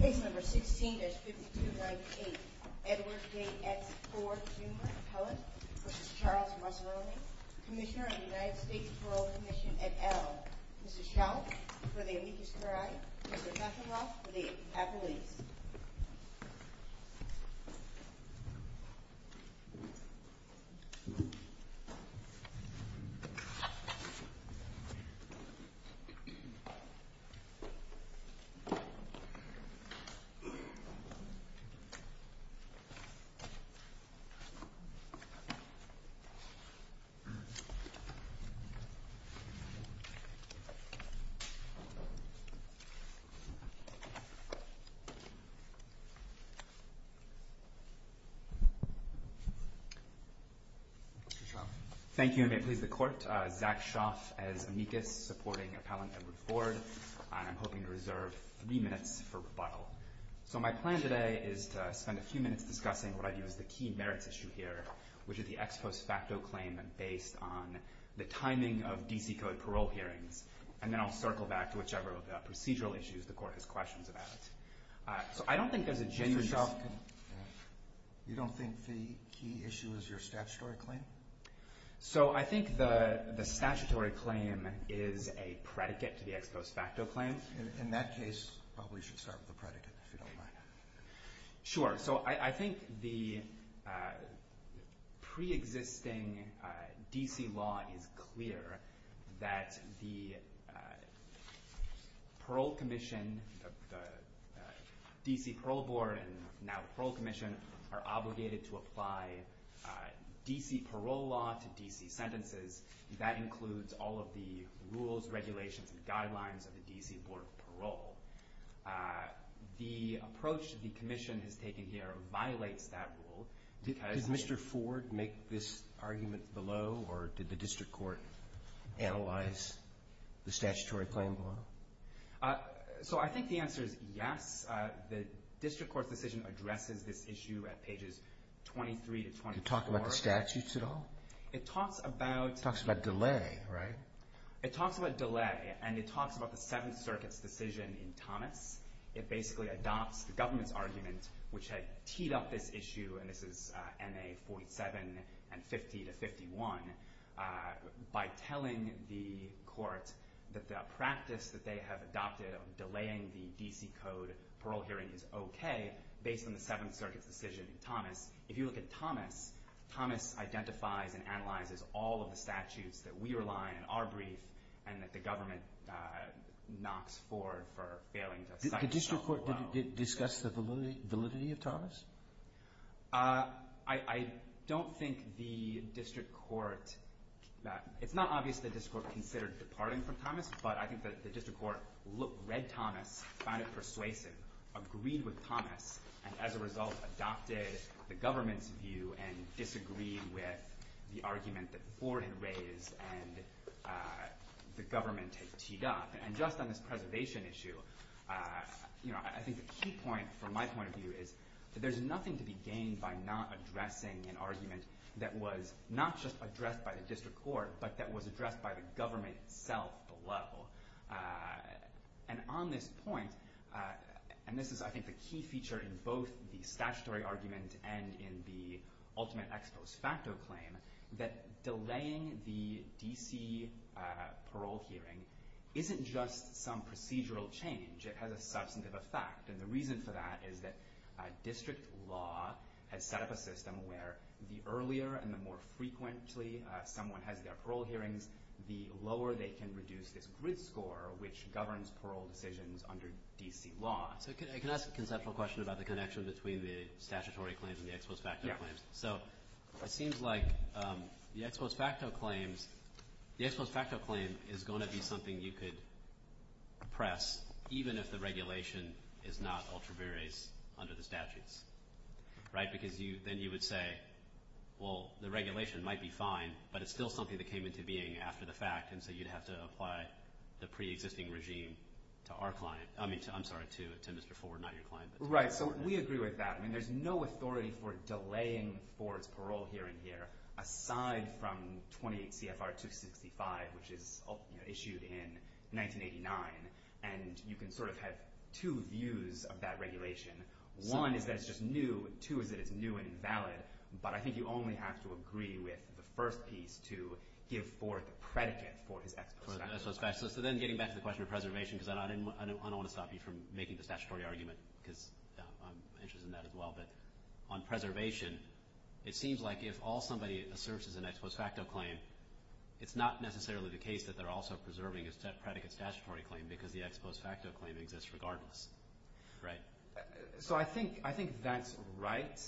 Case number 16-5298, Edward J. S. Ford, Jr., appellate, v. Charles Massarone, Commissioner of the United States Parole Commission, et al. Mrs. Schall, for the amicus curiae. Mr. Kacheloff, for the appellees. Mr. Schall. Thank you, and may it please the Court. My name is Zach Schoff, as amicus, supporting appellant Edward Ford, and I'm hoping to reserve three minutes for rebuttal. So my plan today is to spend a few minutes discussing what I view as the key merits issue here, which is the ex post facto claim based on the timing of D.C. Code parole hearings, and then I'll circle back to whichever of the procedural issues the Court has questions about. So I don't think there's a genuine – Mr. Schoff, you don't think the key issue is your statutory claim? So I think the statutory claim is a predicate to the ex post facto claim. In that case, probably you should start with the predicate, if you don't mind. Sure. So I think the preexisting D.C. law is clear that the parole commission, the D.C. Parole Board, and now the Parole Commission are obligated to apply D.C. parole law to D.C. sentences. That includes all of the rules, regulations, and guidelines of the D.C. Board of Parole. The approach the commission has taken here violates that rule because – Did Mr. Ford make this argument below, or did the district court analyze the statutory claim below? So I think the answer is yes. The district court's decision addresses this issue at pages 23 to 24. Did it talk about the statutes at all? It talks about – It talks about delay, right? It talks about delay, and it talks about the Seventh Circuit's decision in Thomas. It basically adopts the government's argument, which had teed up this issue, and this is N.A. 47 and 50 to 51, by telling the court that the practice that they have adopted of delaying the D.C. code parole hearing is okay based on the Seventh Circuit's decision in Thomas. If you look at Thomas, Thomas identifies and analyzes all of the statutes that we rely on in our brief and that the government knocks forward for failing to cite below. Did the district court discuss the validity of Thomas? I don't think the district court – It's not obvious the district court considered departing from Thomas, but I think that the district court read Thomas, found it persuasive, agreed with Thomas, and as a result adopted the government's view and disagreed with the argument that the board had raised and the government had teed up. And just on this preservation issue, I think the key point from my point of view is that there's nothing to be gained by not addressing an argument that was not just addressed by the district court, but that was addressed by the government itself below. And on this point, and this is I think the key feature in both the statutory argument and in the ultimate ex post facto claim, that delaying the DC parole hearing isn't just some procedural change, it has a substantive effect. And the reason for that is that district law has set up a system where the earlier and the more frequently someone has their parole hearings, the lower they can reduce this grid score which governs parole decisions under DC law. So can I ask a conceptual question about the connection between the statutory claims and the ex post facto claims? Yeah. So it seems like the ex post facto claims is going to be something you could press even if the regulation is not ultra viris under the statutes, right? Because then you would say, well, the regulation might be fine, but it's still something that came into being after the fact, and so you'd have to apply the pre-existing regime to our client. I mean, I'm sorry, to Mr. Ford, not your client. Right. So we agree with that. I mean, there's no authority for delaying Ford's parole hearing here aside from 28 CFR 265, which is issued in 1989. And you can sort of have two views of that regulation. One is that it's just new. Two is that it's new and invalid. But I think you only have to agree with the first piece to give Ford the predicate for his ex post facto claim. So then getting back to the question of preservation, because I don't want to stop you from making the statutory argument because I'm interested in that as well. But on preservation, it seems like if all somebody asserts is an ex post facto claim, it's not necessarily the case that they're also preserving a predicate statutory claim because the ex post facto claim exists regardless, right? So I think that's right.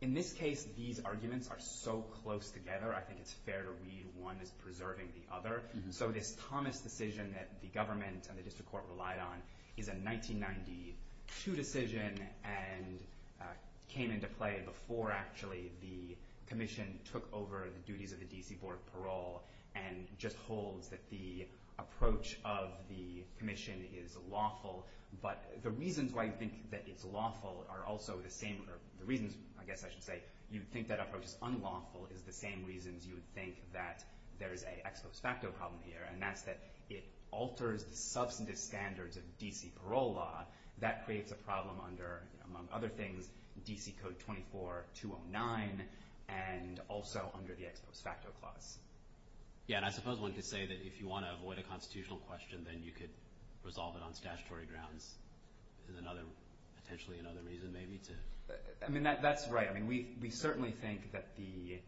In this case, these arguments are so close together. I think it's fair to read one as preserving the other. So this Thomas decision that the government and the district court relied on is a 1992 decision and came into play before actually the commission took over the duties of the D.C. Board of Parole and just holds that the approach of the commission is lawful. But the reasons why you think that it's lawful are also the same, or the reasons, I guess I should say, you think that approach is unlawful is the same reasons you would think that there is an ex post facto problem here, and that's that it alters the substantive standards of D.C. parole law. That creates a problem under, among other things, D.C. Code 24-209 and also under the ex post facto clause. Yeah, and I suppose one could say that if you want to avoid a constitutional question, then you could resolve it on statutory grounds as another, potentially another reason maybe to. I mean, that's right. I mean, we certainly think that the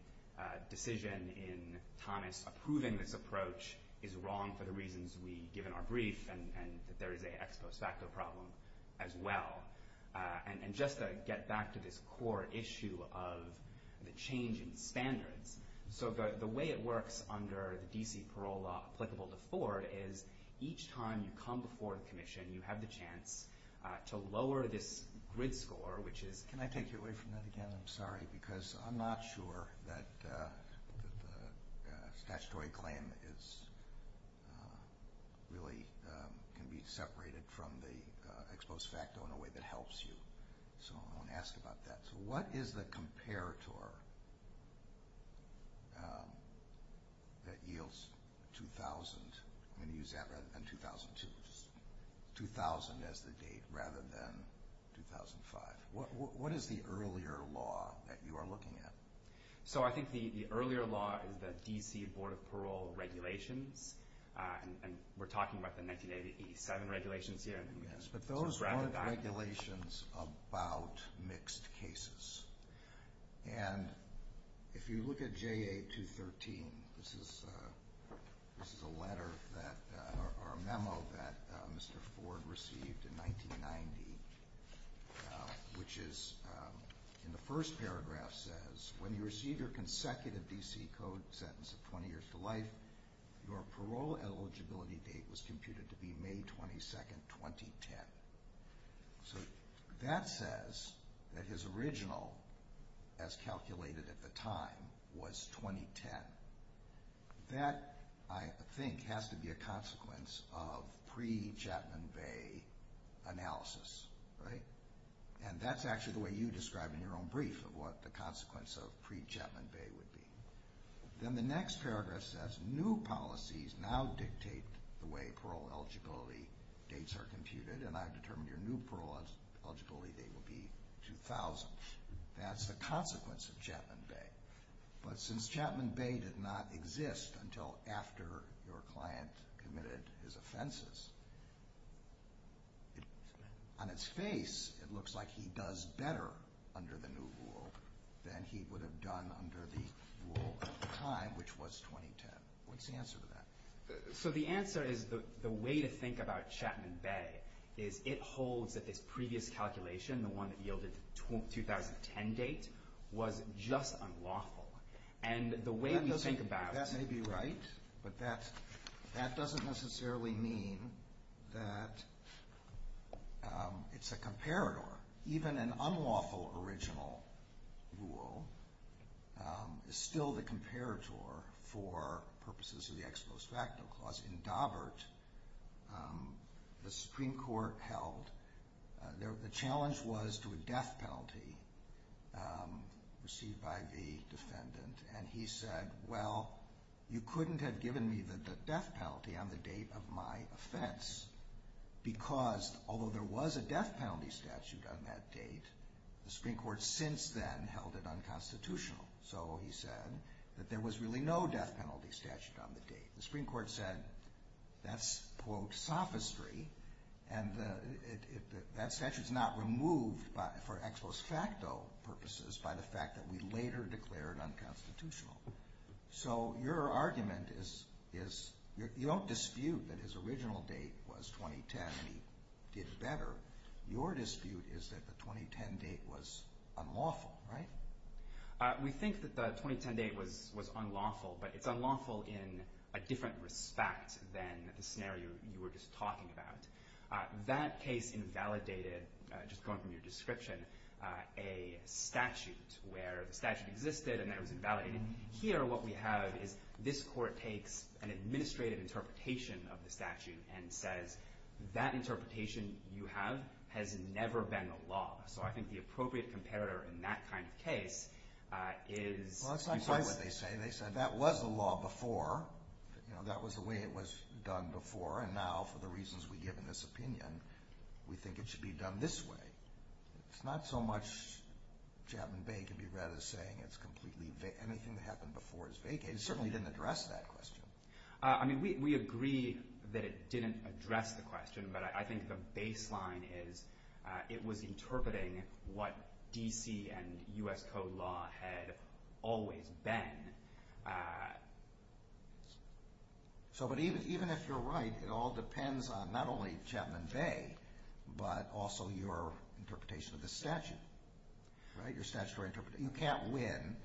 decision in Thomas approving this approach is wrong for the reasons we give in our brief and that there is an ex post facto problem as well. And just to get back to this core issue of the change in standards, so the way it works under the D.C. parole law applicable to Ford is each time you come before the commission, you have the chance to lower this grid score, which is. Can I take you away from that again? I'm sorry, because I'm not sure that the statutory claim is really can be separated from the ex post facto in a way that helps you. So I want to ask about that. So what is the comparator that yields 2000? I'm going to use that rather than 2002. 2000 as the date rather than 2005. What is the earlier law that you are looking at? So I think the earlier law is the D.C. Board of Parole regulations. And we're talking about the 1987 regulations here. But those weren't regulations about mixed cases. And if you look at J.A. 213, this is a letter that or a memo that Mr. Ford received in 1990, which is in the first paragraph says when you receive your consecutive D.C. code sentence of 20 years to life, your parole eligibility date was computed to be May 22, 2010. So that says that his original, as calculated at the time, was 2010. That, I think, has to be a consequence of pre-Chapman Bay analysis, right? And that's actually the way you describe in your own brief what the consequence of pre-Chapman Bay would be. Then the next paragraph says new policies now dictate the way parole eligibility dates are computed, and I've determined your new parole eligibility date will be 2000. That's the consequence of Chapman Bay. But since Chapman Bay did not exist until after your client committed his offenses, on its face it looks like he does better under the new rule than he would have done under the rule at the time, which was 2010. What's the answer to that? So the answer is the way to think about Chapman Bay is it holds that this previous calculation, the one that yielded the 2010 date, was just unlawful. That may be right, but that doesn't necessarily mean that it's a comparator. Even an unlawful original rule is still the comparator for purposes of the Ex Post Factum Clause. The Supreme Court held the challenge was to a death penalty received by the defendant, and he said, well, you couldn't have given me the death penalty on the date of my offense, because although there was a death penalty statute on that date, the Supreme Court since then held it unconstitutional. So he said that there was really no death penalty statute on the date. The Supreme Court said that's, quote, sophistry, and that statute's not removed for ex post facto purposes by the fact that we later declared unconstitutional. So your argument is you don't dispute that his original date was 2010 and he did better. Your dispute is that the 2010 date was unlawful, right? We think that the 2010 date was unlawful, but it's unlawful in a different respect than the scenario you were just talking about. That case invalidated, just going from your description, a statute where the statute existed and that was invalidated. Here what we have is this Court takes an administrative interpretation of the statute and says that interpretation you have has never been the law. So I think the appropriate comparator in that kind of case is— Well, that's not quite what they say. They said that was the law before, that was the way it was done before, and now for the reasons we give in this opinion, we think it should be done this way. It's not so much Chapman Bay can be read as saying anything that happened before is vague. It certainly didn't address that question. I mean, we agree that it didn't address the question, but I think the baseline is it was interpreting what D.C. and U.S. Code law had always been. So, but even if you're right, it all depends on not only Chapman Bay, but also your interpretation of the statute, right, your statutory interpretation. You can't win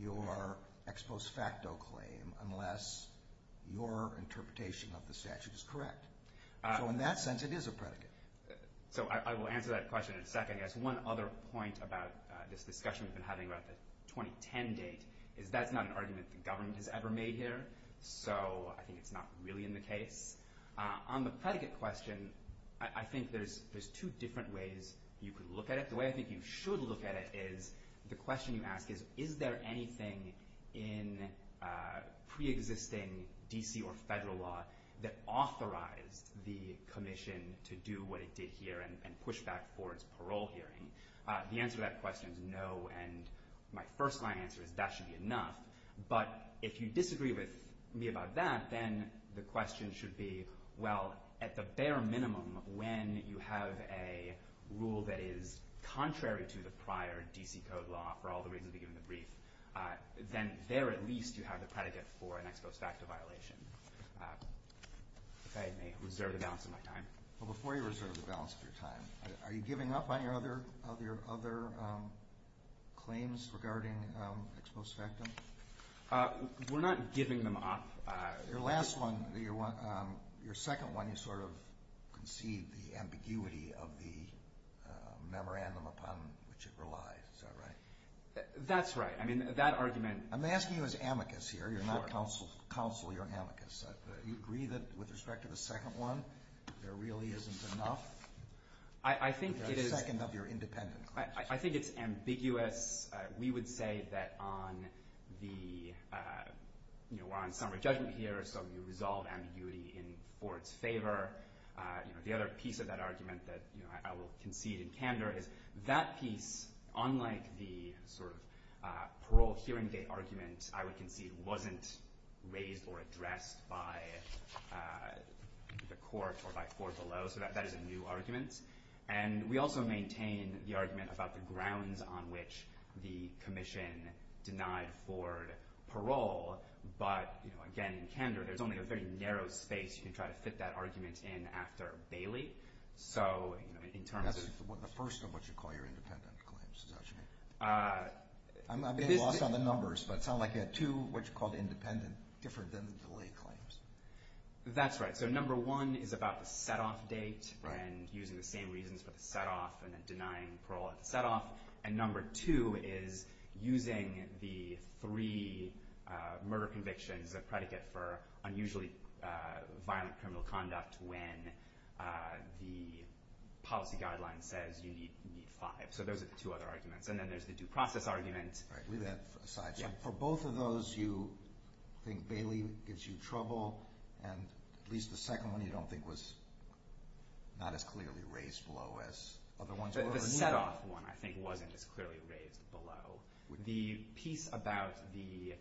your ex post facto claim unless your interpretation of the statute is correct. So in that sense, it is a predicate. So I will answer that question in a second. I guess one other point about this discussion we've been having about the 2010 date is that's not an argument the government has ever made here, so I think it's not really in the case. On the predicate question, I think there's two different ways you could look at it. The way I think you should look at it is the question you ask is, is there anything in preexisting D.C. or federal law that authorized the commission to do what it did here and push back for its parole hearing? The answer to that question is no, and my first line answer is that should be enough. But if you disagree with me about that, then the question should be, well, at the bare minimum when you have a rule that is contrary to the prior D.C. Code law for all the reasons we give in the brief, then there at least you have the predicate for an ex post facto violation. If I may reserve the balance of my time. Well, before you reserve the balance of your time, are you giving up any of your other claims regarding ex post facto? We're not giving them up. Your last one, your second one, you sort of concede the ambiguity of the memorandum upon which it relies. Is that right? That's right. I mean, that argument. I'm asking you as amicus here. You're not counsel. You're amicus. Do you agree that with respect to the second one, there really isn't enough? I think it is. The second of your independent claims. I think it's ambiguous. We would say that on the, you know, we're on summary judgment here, so you resolve ambiguity in the board's favor. The other piece of that argument that I will concede in candor is that piece, unlike the sort of parole hearing date argument, I would concede wasn't raised or addressed by the court or by Ford below. So that is a new argument. And we also maintain the argument about the grounds on which the commission denied Ford parole. But, you know, again, in candor, there's only a very narrow space you can try to fit that argument in after Bailey. So in terms of— That's the first of what you call your independent claims, is that right? I'm getting lost on the numbers, but it sounds like you had two what you called independent, different than the delay claims. That's right. So number one is about the set-off date and using the same reasons for the set-off and then denying parole at the set-off. And number two is using the three murder convictions as a predicate for unusually violent criminal conduct when the policy guideline says you need five. So those are the two other arguments. And then there's the due process argument. All right. Leave that aside. For both of those, you think Bailey gives you trouble, and at least the second one you don't think was not as clearly raised below as other ones. The set-off one I think wasn't as clearly raised below. The piece about the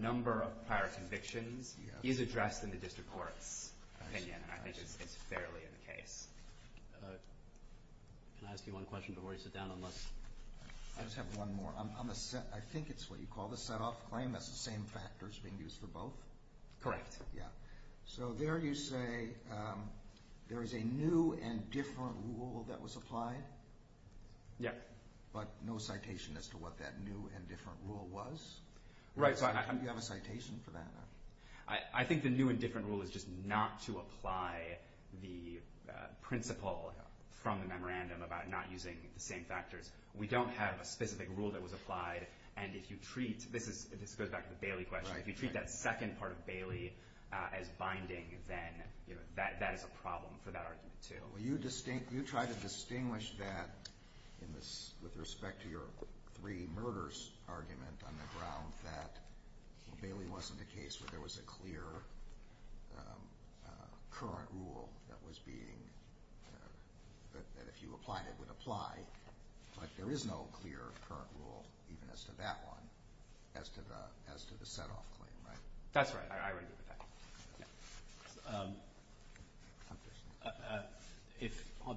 number of prior convictions is addressed in the district court's opinion, and I think it's fairly in the case. Can I ask you one question before you sit down? I just have one more. I think it's what you call the set-off claim. That's the same factors being used for both? Correct. Yeah. So there you say there is a new and different rule that was applied? Yeah. But no citation as to what that new and different rule was? Right. You have a citation for that? I think the new and different rule is just not to apply the principle from the memorandum about not using the same factors. We don't have a specific rule that was applied. This goes back to the Bailey question. If you treat that second part of Bailey as binding, then that is a problem for that argument, too. You try to distinguish that with respect to your three murders argument on the ground, that Bailey wasn't a case where there was a clear current rule that if you applied it would apply, but there is no clear current rule even as to that one as to the set-off claim, right? That's right. I agree with that.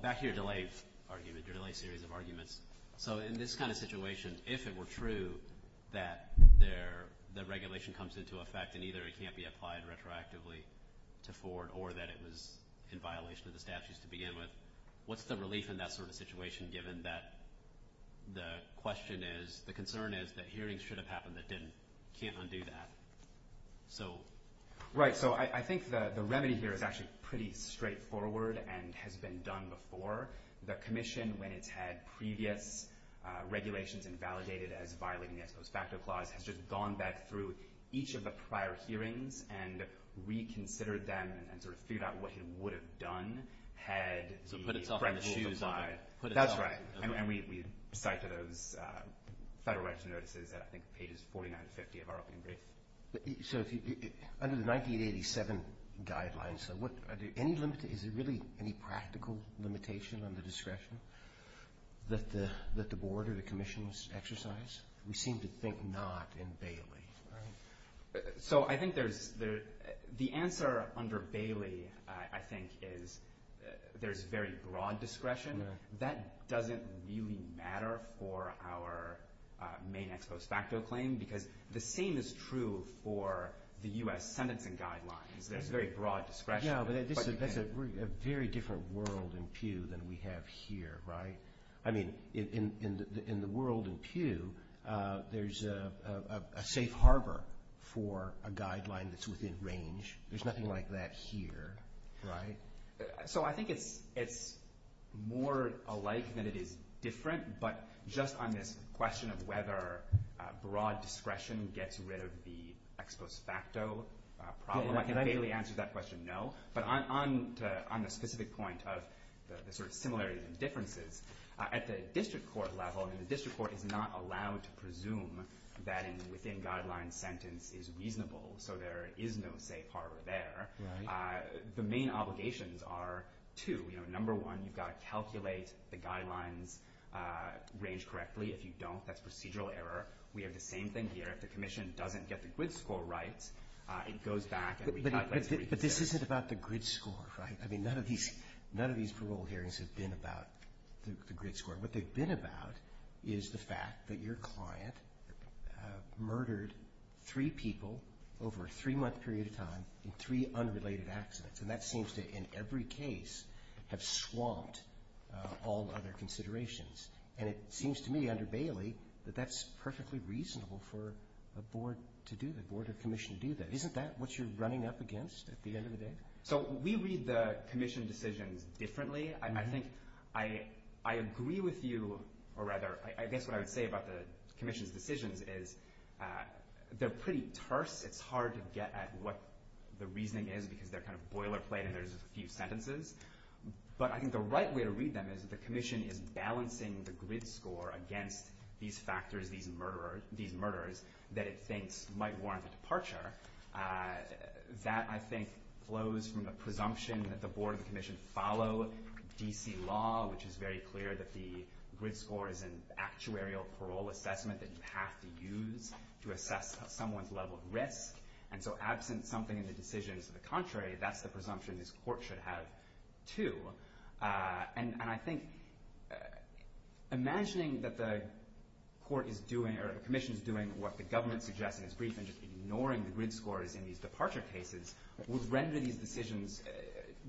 Back to your delay argument, your delay series of arguments. So in this kind of situation, if it were true that the regulation comes into effect and either it can't be applied retroactively to Ford or that it was in violation of the statutes to begin with, what's the relief in that sort of situation given that the concern is that hearings should have happened that didn't? You can't undo that. Right. So I think the remedy here is actually pretty straightforward and has been done before. The Commission, when it's had previous regulations invalidated as violating the Ex Post Facto Clause, has just gone back through each of the prior hearings and reconsidered them and sort of figured out what it would have done had the current rules applied. That's right. And we cite to those Federal Register Notices at I think pages 49 and 50 of our opening brief. So under the 1987 guidelines, is there really any practical limitation on the discretion that the Board or the Commission exercise? We seem to think not in Bailey, right? So I think the answer under Bailey, I think, is there's very broad discretion. That doesn't really matter for our main Ex Post Facto claim because the same is true for the U.S. sentencing guidelines. There's very broad discretion. No, but that's a very different world in Pew than we have here, right? I mean, in the world in Pew, there's a safe harbor for a guideline that's within range. There's nothing like that here, right? So I think it's more alike than it is different, but just on this question of whether broad discretion gets rid of the Ex Post Facto problem, I can bailey answer that question, no. But on the specific point of the sort of similarities and differences, at the district court level, and the district court is not allowed to presume that a within-guidelines sentence is reasonable, so there is no safe harbor there. The main obligations are two. Number one, you've got to calculate the guidelines range correctly. If you don't, that's procedural error. We have the same thing here. If the commission doesn't get the grid score right, it goes back and recalculates. But this isn't about the grid score, right? I mean, none of these parole hearings have been about the grid score. What they've been about is the fact that your client murdered three people over a three-month period of time in three unrelated accidents. And that seems to, in every case, have swamped all other considerations. And it seems to me, under Bailey, that that's perfectly reasonable for a board to do that, a board or commission to do that. Isn't that what you're running up against at the end of the day? So we read the commission decisions differently. I think I agree with you, or rather, I guess what I would say about the commission's decisions is they're pretty terse. It's hard to get at what the reasoning is because they're kind of boilerplate and there's a few sentences. But I think the right way to read them is that the commission is balancing the grid score against these factors, these murderers, that it thinks might warrant a departure. That, I think, flows from the presumption that the board and the commission follow D.C. law, which is very clear that the grid score is an actuarial parole assessment that you have to use to assess someone's level of risk. And so absent something in the decisions to the contrary, that's the presumption this court should have, too. And I think imagining that the court is doing or the commission is doing what the government suggests in its brief and just ignoring the grid scores in these departure cases would render these decisions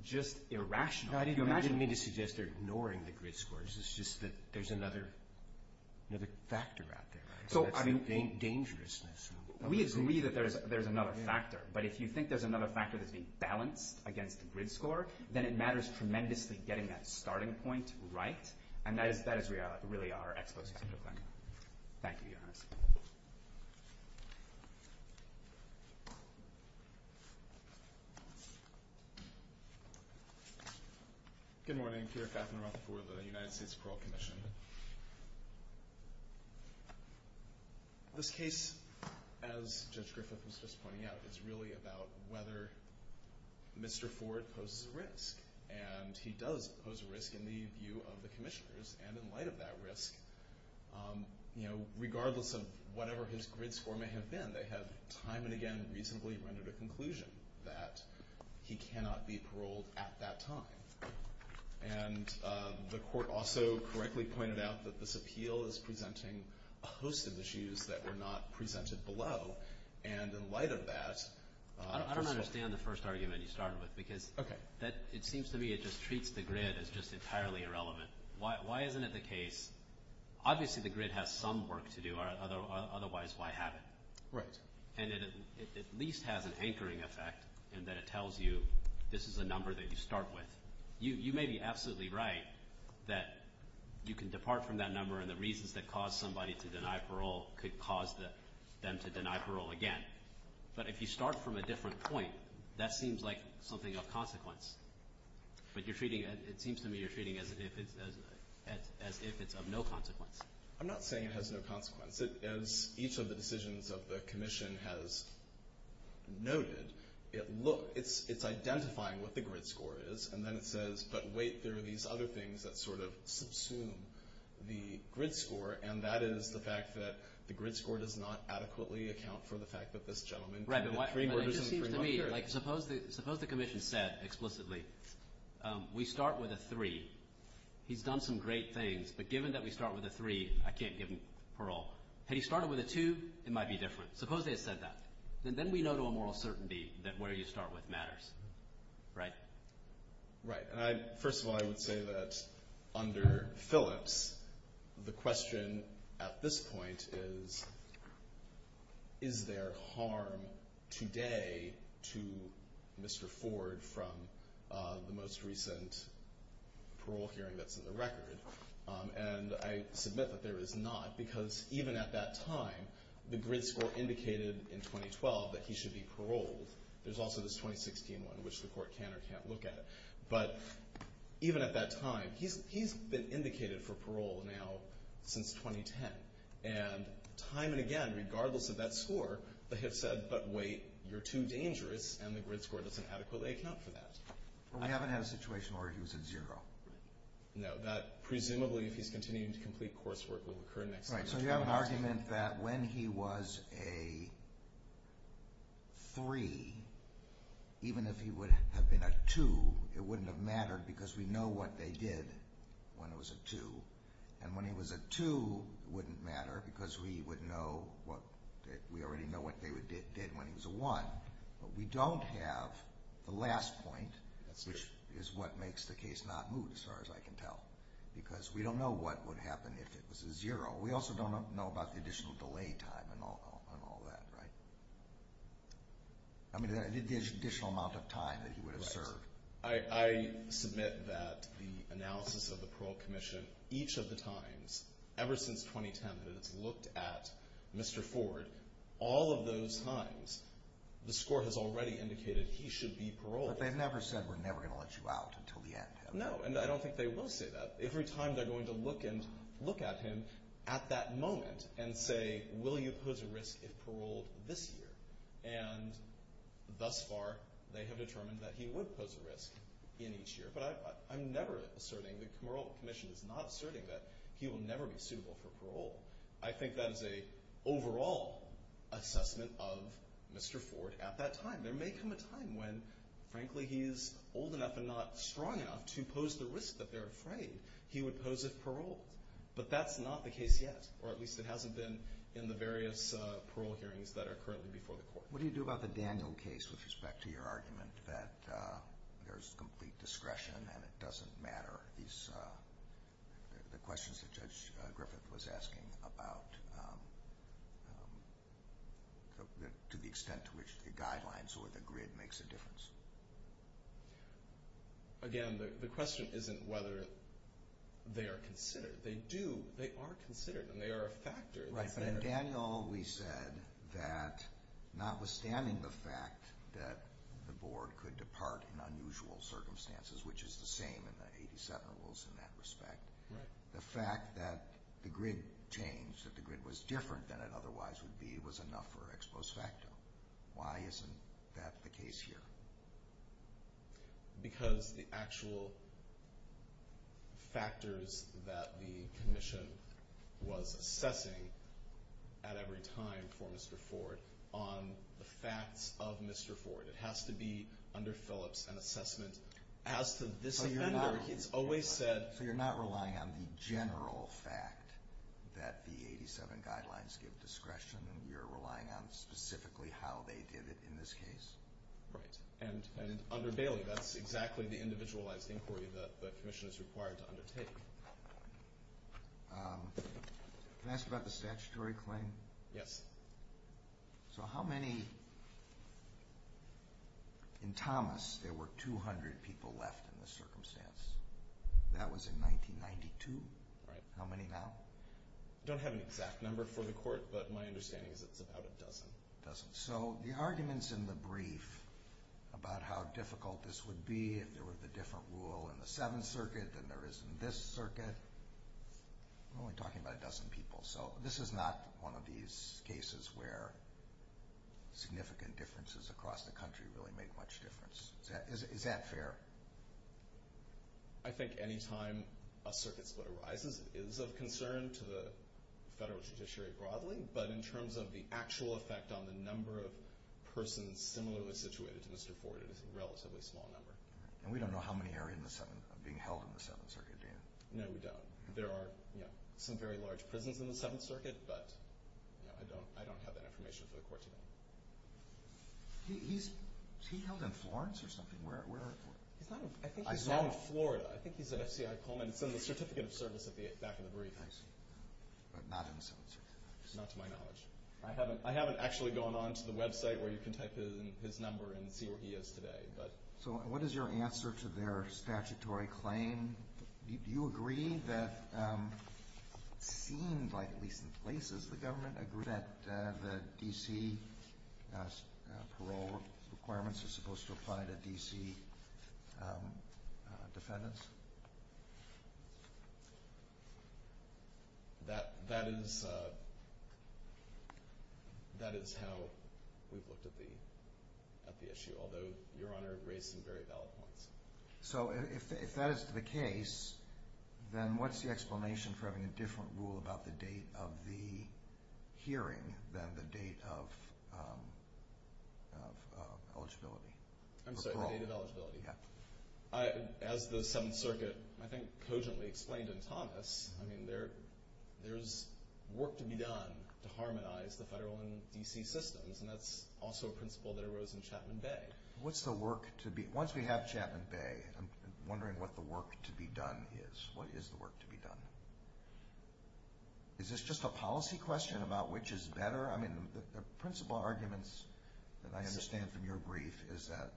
just irrational. I didn't mean to suggest they're ignoring the grid scores. It's just that there's another factor out there. So, I mean— Dangerousness. We agree that there's another factor. But if you think there's another factor that's being balanced against the grid score, then it matters tremendously getting that starting point right. And that is really our exposition to the claim. Thank you, Your Honor. Good morning. Peter Kaffenroth for the United States Parole Commission. This case, as Judge Griffith was just pointing out, is really about whether Mr. Ford poses a risk. And he does pose a risk in the view of the commissioners. And in light of that risk, you know, regardless of whatever his grid score may have been, they have time and again reasonably rendered a conclusion that he cannot be paroled at that time. And the court also correctly pointed out that this appeal is presenting a host of issues that were not presented below. And in light of that— I don't understand the first argument you started with because it seems to me it just treats the grid as just entirely irrelevant. Why isn't it the case? Obviously, the grid has some work to do. Otherwise, why have it? Right. And it at least has an anchoring effect in that it tells you this is a number that you start with. You may be absolutely right that you can depart from that number, and the reasons that caused somebody to deny parole could cause them to deny parole again. But if you start from a different point, that seems like something of consequence. But you're treating it—it seems to me you're treating it as if it's of no consequence. I'm not saying it has no consequence. As each of the decisions of the commission has noted, it's identifying what the grid score is, and then it says, but wait, there are these other things that sort of subsume the grid score, and that is the fact that the grid score does not adequately account for the fact that this gentleman— Right, but it just seems to me, like suppose the commission said explicitly, we start with a three. He's done some great things, but given that we start with a three, I can't give him parole. Had he started with a two, it might be different. Suppose they said that. Then we know to a moral certainty that where you start with matters. Right? Right. First of all, I would say that under Phillips, the question at this point is, is there harm today to Mr. Ford from the most recent parole hearing that's in the record? And I submit that there is not, because even at that time, the grid score indicated in 2012 that he should be paroled. There's also this 2016 one, which the court can or can't look at. But even at that time, he's been indicated for parole now since 2010. And time and again, regardless of that score, they have said, but wait, you're too dangerous, and the grid score doesn't adequately account for that. Well, we haven't had a situation where he was a zero. No, that presumably, if he's continuing to complete coursework, will occur next time. So you have an argument that when he was a three, even if he would have been a two, it wouldn't have mattered because we know what they did when he was a two. And when he was a two, it wouldn't matter because we already know what they did when he was a one. But we don't have the last point, which is what makes the case not move, as far as I can tell. Because we don't know what would happen if it was a zero. We also don't know about the additional delay time and all that, right? I mean, the additional amount of time that he would have served. I submit that the analysis of the Parole Commission, each of the times, ever since 2010, that it's looked at Mr. Ford, all of those times, the score has already indicated he should be paroled. But they've never said we're never going to let you out until the end, have they? No, and I don't think they will say that. Every time they're going to look at him at that moment and say, will you pose a risk if paroled this year? And thus far, they have determined that he would pose a risk in each year. But I'm never asserting, the Parole Commission is not asserting that he will never be suitable for parole. I think that is an overall assessment of Mr. Ford at that time. There may come a time when, frankly, he is old enough and not strong enough to pose the risk that they're afraid he would pose if paroled. But that's not the case yet, or at least it hasn't been in the various parole hearings that are currently before the court. What do you do about the Daniel case with respect to your argument that there's complete discretion and it doesn't matter? The questions that Judge Griffith was asking about to the extent to which the guidelines or the grid makes a difference. Again, the question isn't whether they are considered. They do, they are considered, and they are a factor. Right, but in Daniel, we said that notwithstanding the fact that the board could depart in unusual circumstances, which is the same in the 87 rules in that respect, the fact that the grid changed, that the grid was different than it otherwise would be, was enough for ex post facto. Why isn't that the case here? Because the actual factors that the commission was assessing at every time for Mr. Ford on the facts of Mr. Ford. It has to be under Phillips and assessment. As to this offender, he's always said... So you're not relying on the general fact that the 87 guidelines give discretion, and you're relying on specifically how they did it in this case? Right, and under Bailey, that's exactly the individualized inquiry that the commission is required to undertake. Can I ask about the statutory claim? Yes. So how many... In Thomas, there were 200 people left in the circumstance. That was in 1992. Right. How many now? I don't have an exact number for the court, but my understanding is it's about a dozen. A dozen. So the arguments in the brief about how difficult this would be if there were the different rule in the Seventh Circuit than there is in this circuit, we're only talking about a dozen people. So this is not one of these cases where significant differences across the country really make much difference. Is that fair? I think any time a circuit split arises, it is of concern to the federal judiciary broadly, but in terms of the actual effect on the number of persons similarly situated to Mr. Ford, it is a relatively small number. And we don't know how many are being held in the Seventh Circuit, do you? No, we don't. There are some very large prisons in the Seventh Circuit, but I don't have that information for the court to know. Was he held in Florence or something? I think he's now in Florida. I think he's at FCI Coleman. It's in the Certificate of Service at the back of the brief. But not in the Seventh Circuit. Not to my knowledge. I haven't actually gone on to the website where you can type in his number and see where he is today. So what is your answer to their statutory claim? Do you agree that it seemed like, at least in places, the government agreed that the D.C. parole requirements are supposed to apply to D.C. defendants? That is how we've looked at the issue, although Your Honor raised some very valid points. So if that is the case, then what's the explanation for having a different rule about the date of the hearing than the date of eligibility? I'm sorry, the date of eligibility. As the Seventh Circuit, I think, cogently explained in Thomas, there's work to be done to harmonize the federal and D.C. systems, and that's also a principle that arose in Chapman Bay. Once we have Chapman Bay, I'm wondering what the work to be done is. What is the work to be done? Is this just a policy question about which is better? I mean, the principal arguments that I understand from your brief is that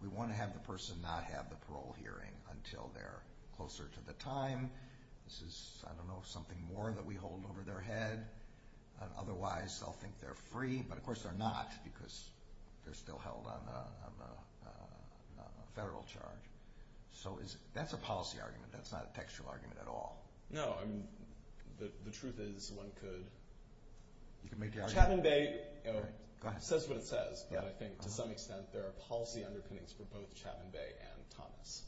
we want to have the person not have the parole hearing until they're closer to the time. This is, I don't know, something more that we hold over their head. Otherwise, they'll think they're free, but of course they're not because they're still held on a federal charge. So that's a policy argument. That's not a textual argument at all. No, the truth is one could. Chapman Bay says what it says, but I think to some extent there are policy underpinnings for both Chapman Bay and Thomas.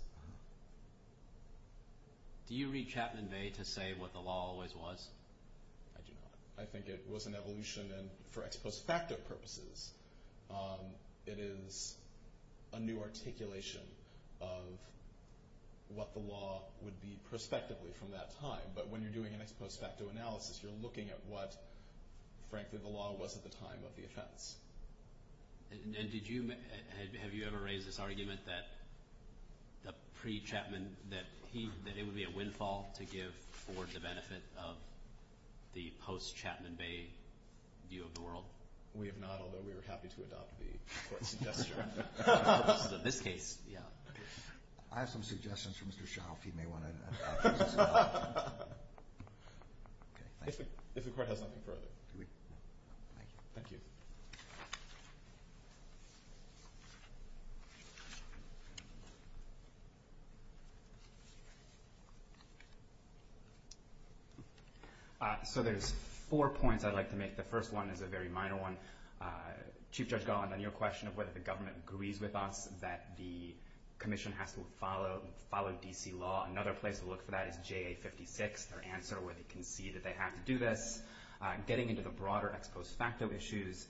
Do you read Chapman Bay to say what the law always was? I do not. I think it was an evolution, and for ex post facto purposes, it is a new articulation of what the law would be prospectively from that time. But when you're doing an ex post facto analysis, you're looking at what, frankly, the law was at the time of the offense. And have you ever raised this argument that the pre-Chapman, that it would be a windfall to give for the benefit of the post-Chapman Bay view of the world? We have not, although we were happy to adopt the court's suggestion. At least in this case, yeah. I have some suggestions for Mr. Schauf. He may want to address this. If the court has nothing further. Thank you. So there's four points I'd like to make. The first one is a very minor one. Chief Judge Golland, on your question of whether the government agrees with us that the commission has to follow D.C. law, another place to look for that is JA56, their answer where they concede that they have to do this. Getting into the broader ex post facto issues,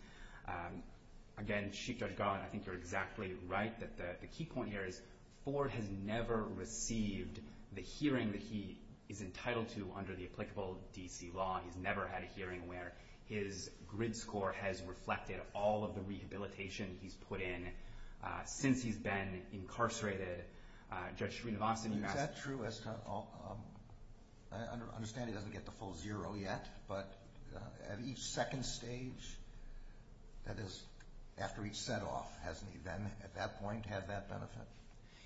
again, Chief Judge Golland, I think you're exactly right, that the key point here is Ford has never received the hearing that he is entitled to under the applicable D.C. law. He's never had a hearing where his grid score has reflected all of the rehabilitation he's put in since he's been incarcerated. Judge Srinivasan. Is that true? I understand he doesn't get the full zero yet, but at each second stage, that is, after each set off, hasn't he then at that point had that benefit?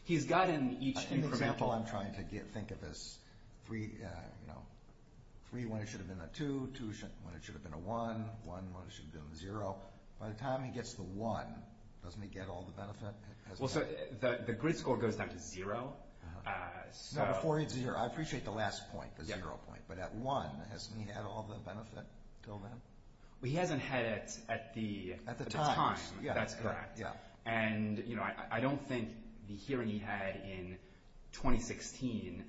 He's gotten each incremental. In the example I'm trying to think of as three when it should have been a two, two when it should have been a one, one when it should have been a zero. By the time he gets the one, doesn't he get all the benefit? The grid score goes down to zero. I appreciate the last point, the zero point, but at one, hasn't he had all the benefit until then? He hasn't had it at the time. That's correct. I don't think the hearing he had in 2016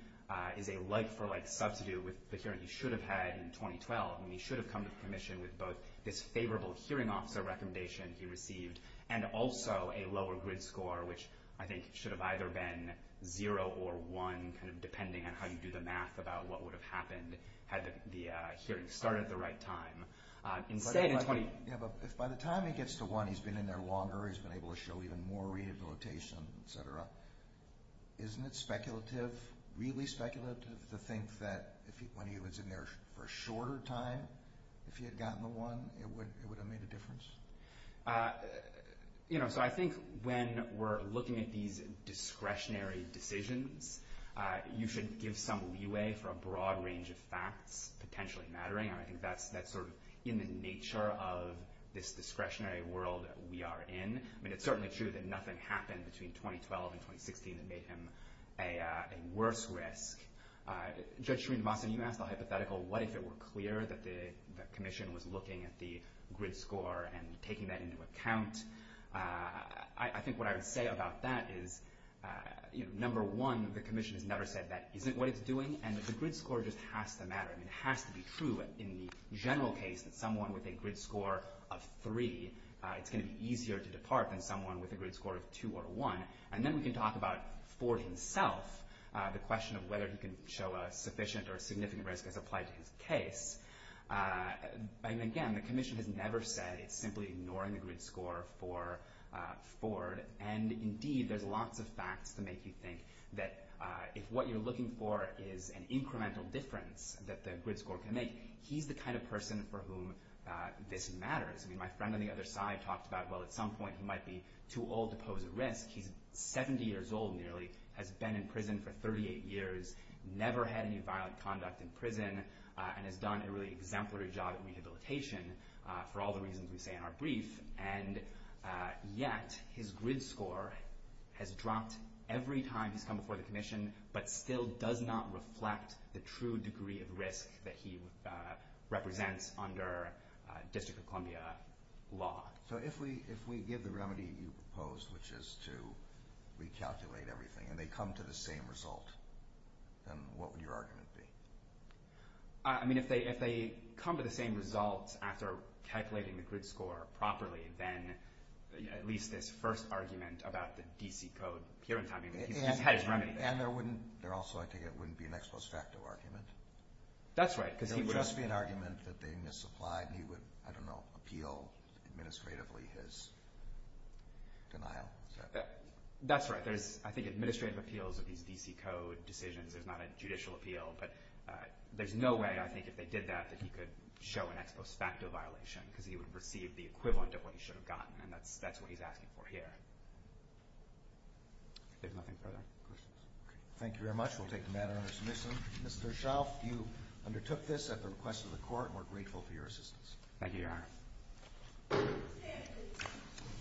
is a light for light substitute with the hearing he should have had in 2012, when he should have come to commission with both this favorable hearing officer recommendation he received and also a lower grid score, which I think should have either been zero or one, depending on how you do the math about what would have happened had the hearing started at the right time. By the time he gets to one, he's been in there longer. He's been able to show even more rehabilitation, et cetera. Isn't it speculative, really speculative to think that when he was in there for a shorter time, if he had gotten the one, it would have made a difference? I think when we're looking at these discretionary decisions, you should give some leeway for a broad range of facts potentially mattering. I think that's sort of in the nature of this discretionary world that we are in. It's certainly true that nothing happened between 2012 and 2016 that made him a worse risk. Judge Srinivasan, you asked the hypothetical, what if it were clear that the commission was looking at the grid score and taking that into account? I think what I would say about that is, number one, the commission has never said that isn't what it's doing, and that the grid score just has to matter. It has to be true in the general case that someone with a grid score of three, it's going to be easier to depart than someone with a grid score of two or one. And then we can talk about, for himself, the question of whether he can show a sufficient or significant risk as applied to his case. Again, the commission has never said it's simply ignoring the grid score for Ford. And indeed, there's lots of facts to make you think that if what you're looking for is an incremental difference that the grid score can make, he's the kind of person for whom this matters. I mean, my friend on the other side talked about, well, at some point, he might be too old to pose a risk. He's 70 years old, nearly, has been in prison for 38 years, never had any violent conduct in prison, and has done a really exemplary job in rehabilitation for all the reasons we say in our brief. And yet, his grid score has dropped every time he's come before the commission, but still does not reflect the true degree of risk that he represents under District of Columbia law. So if we give the remedy you proposed, which is to recalculate everything, and they come to the same result, then what would your argument be? I mean, if they come to the same result after calculating the grid score properly, then at least this first argument about the DC code, he's had his remedy. And there also, I think, wouldn't be an ex post facto argument. That's right. It would just be an argument that they misapplied, and he would, I don't know, appeal administratively his denial. That's right. There's, I think, administrative appeals of these DC code decisions. There's not a judicial appeal. But there's no way, I think, if they did that, that he could show an ex post facto violation because he would receive the equivalent of what he should have gotten, and that's what he's asking for here. If there's nothing further, questions? Thank you very much. We'll take the matter under submission. Mr. Shelf, you undertook this at the request of the court, and we're grateful for your assistance. Thank you, Your Honor.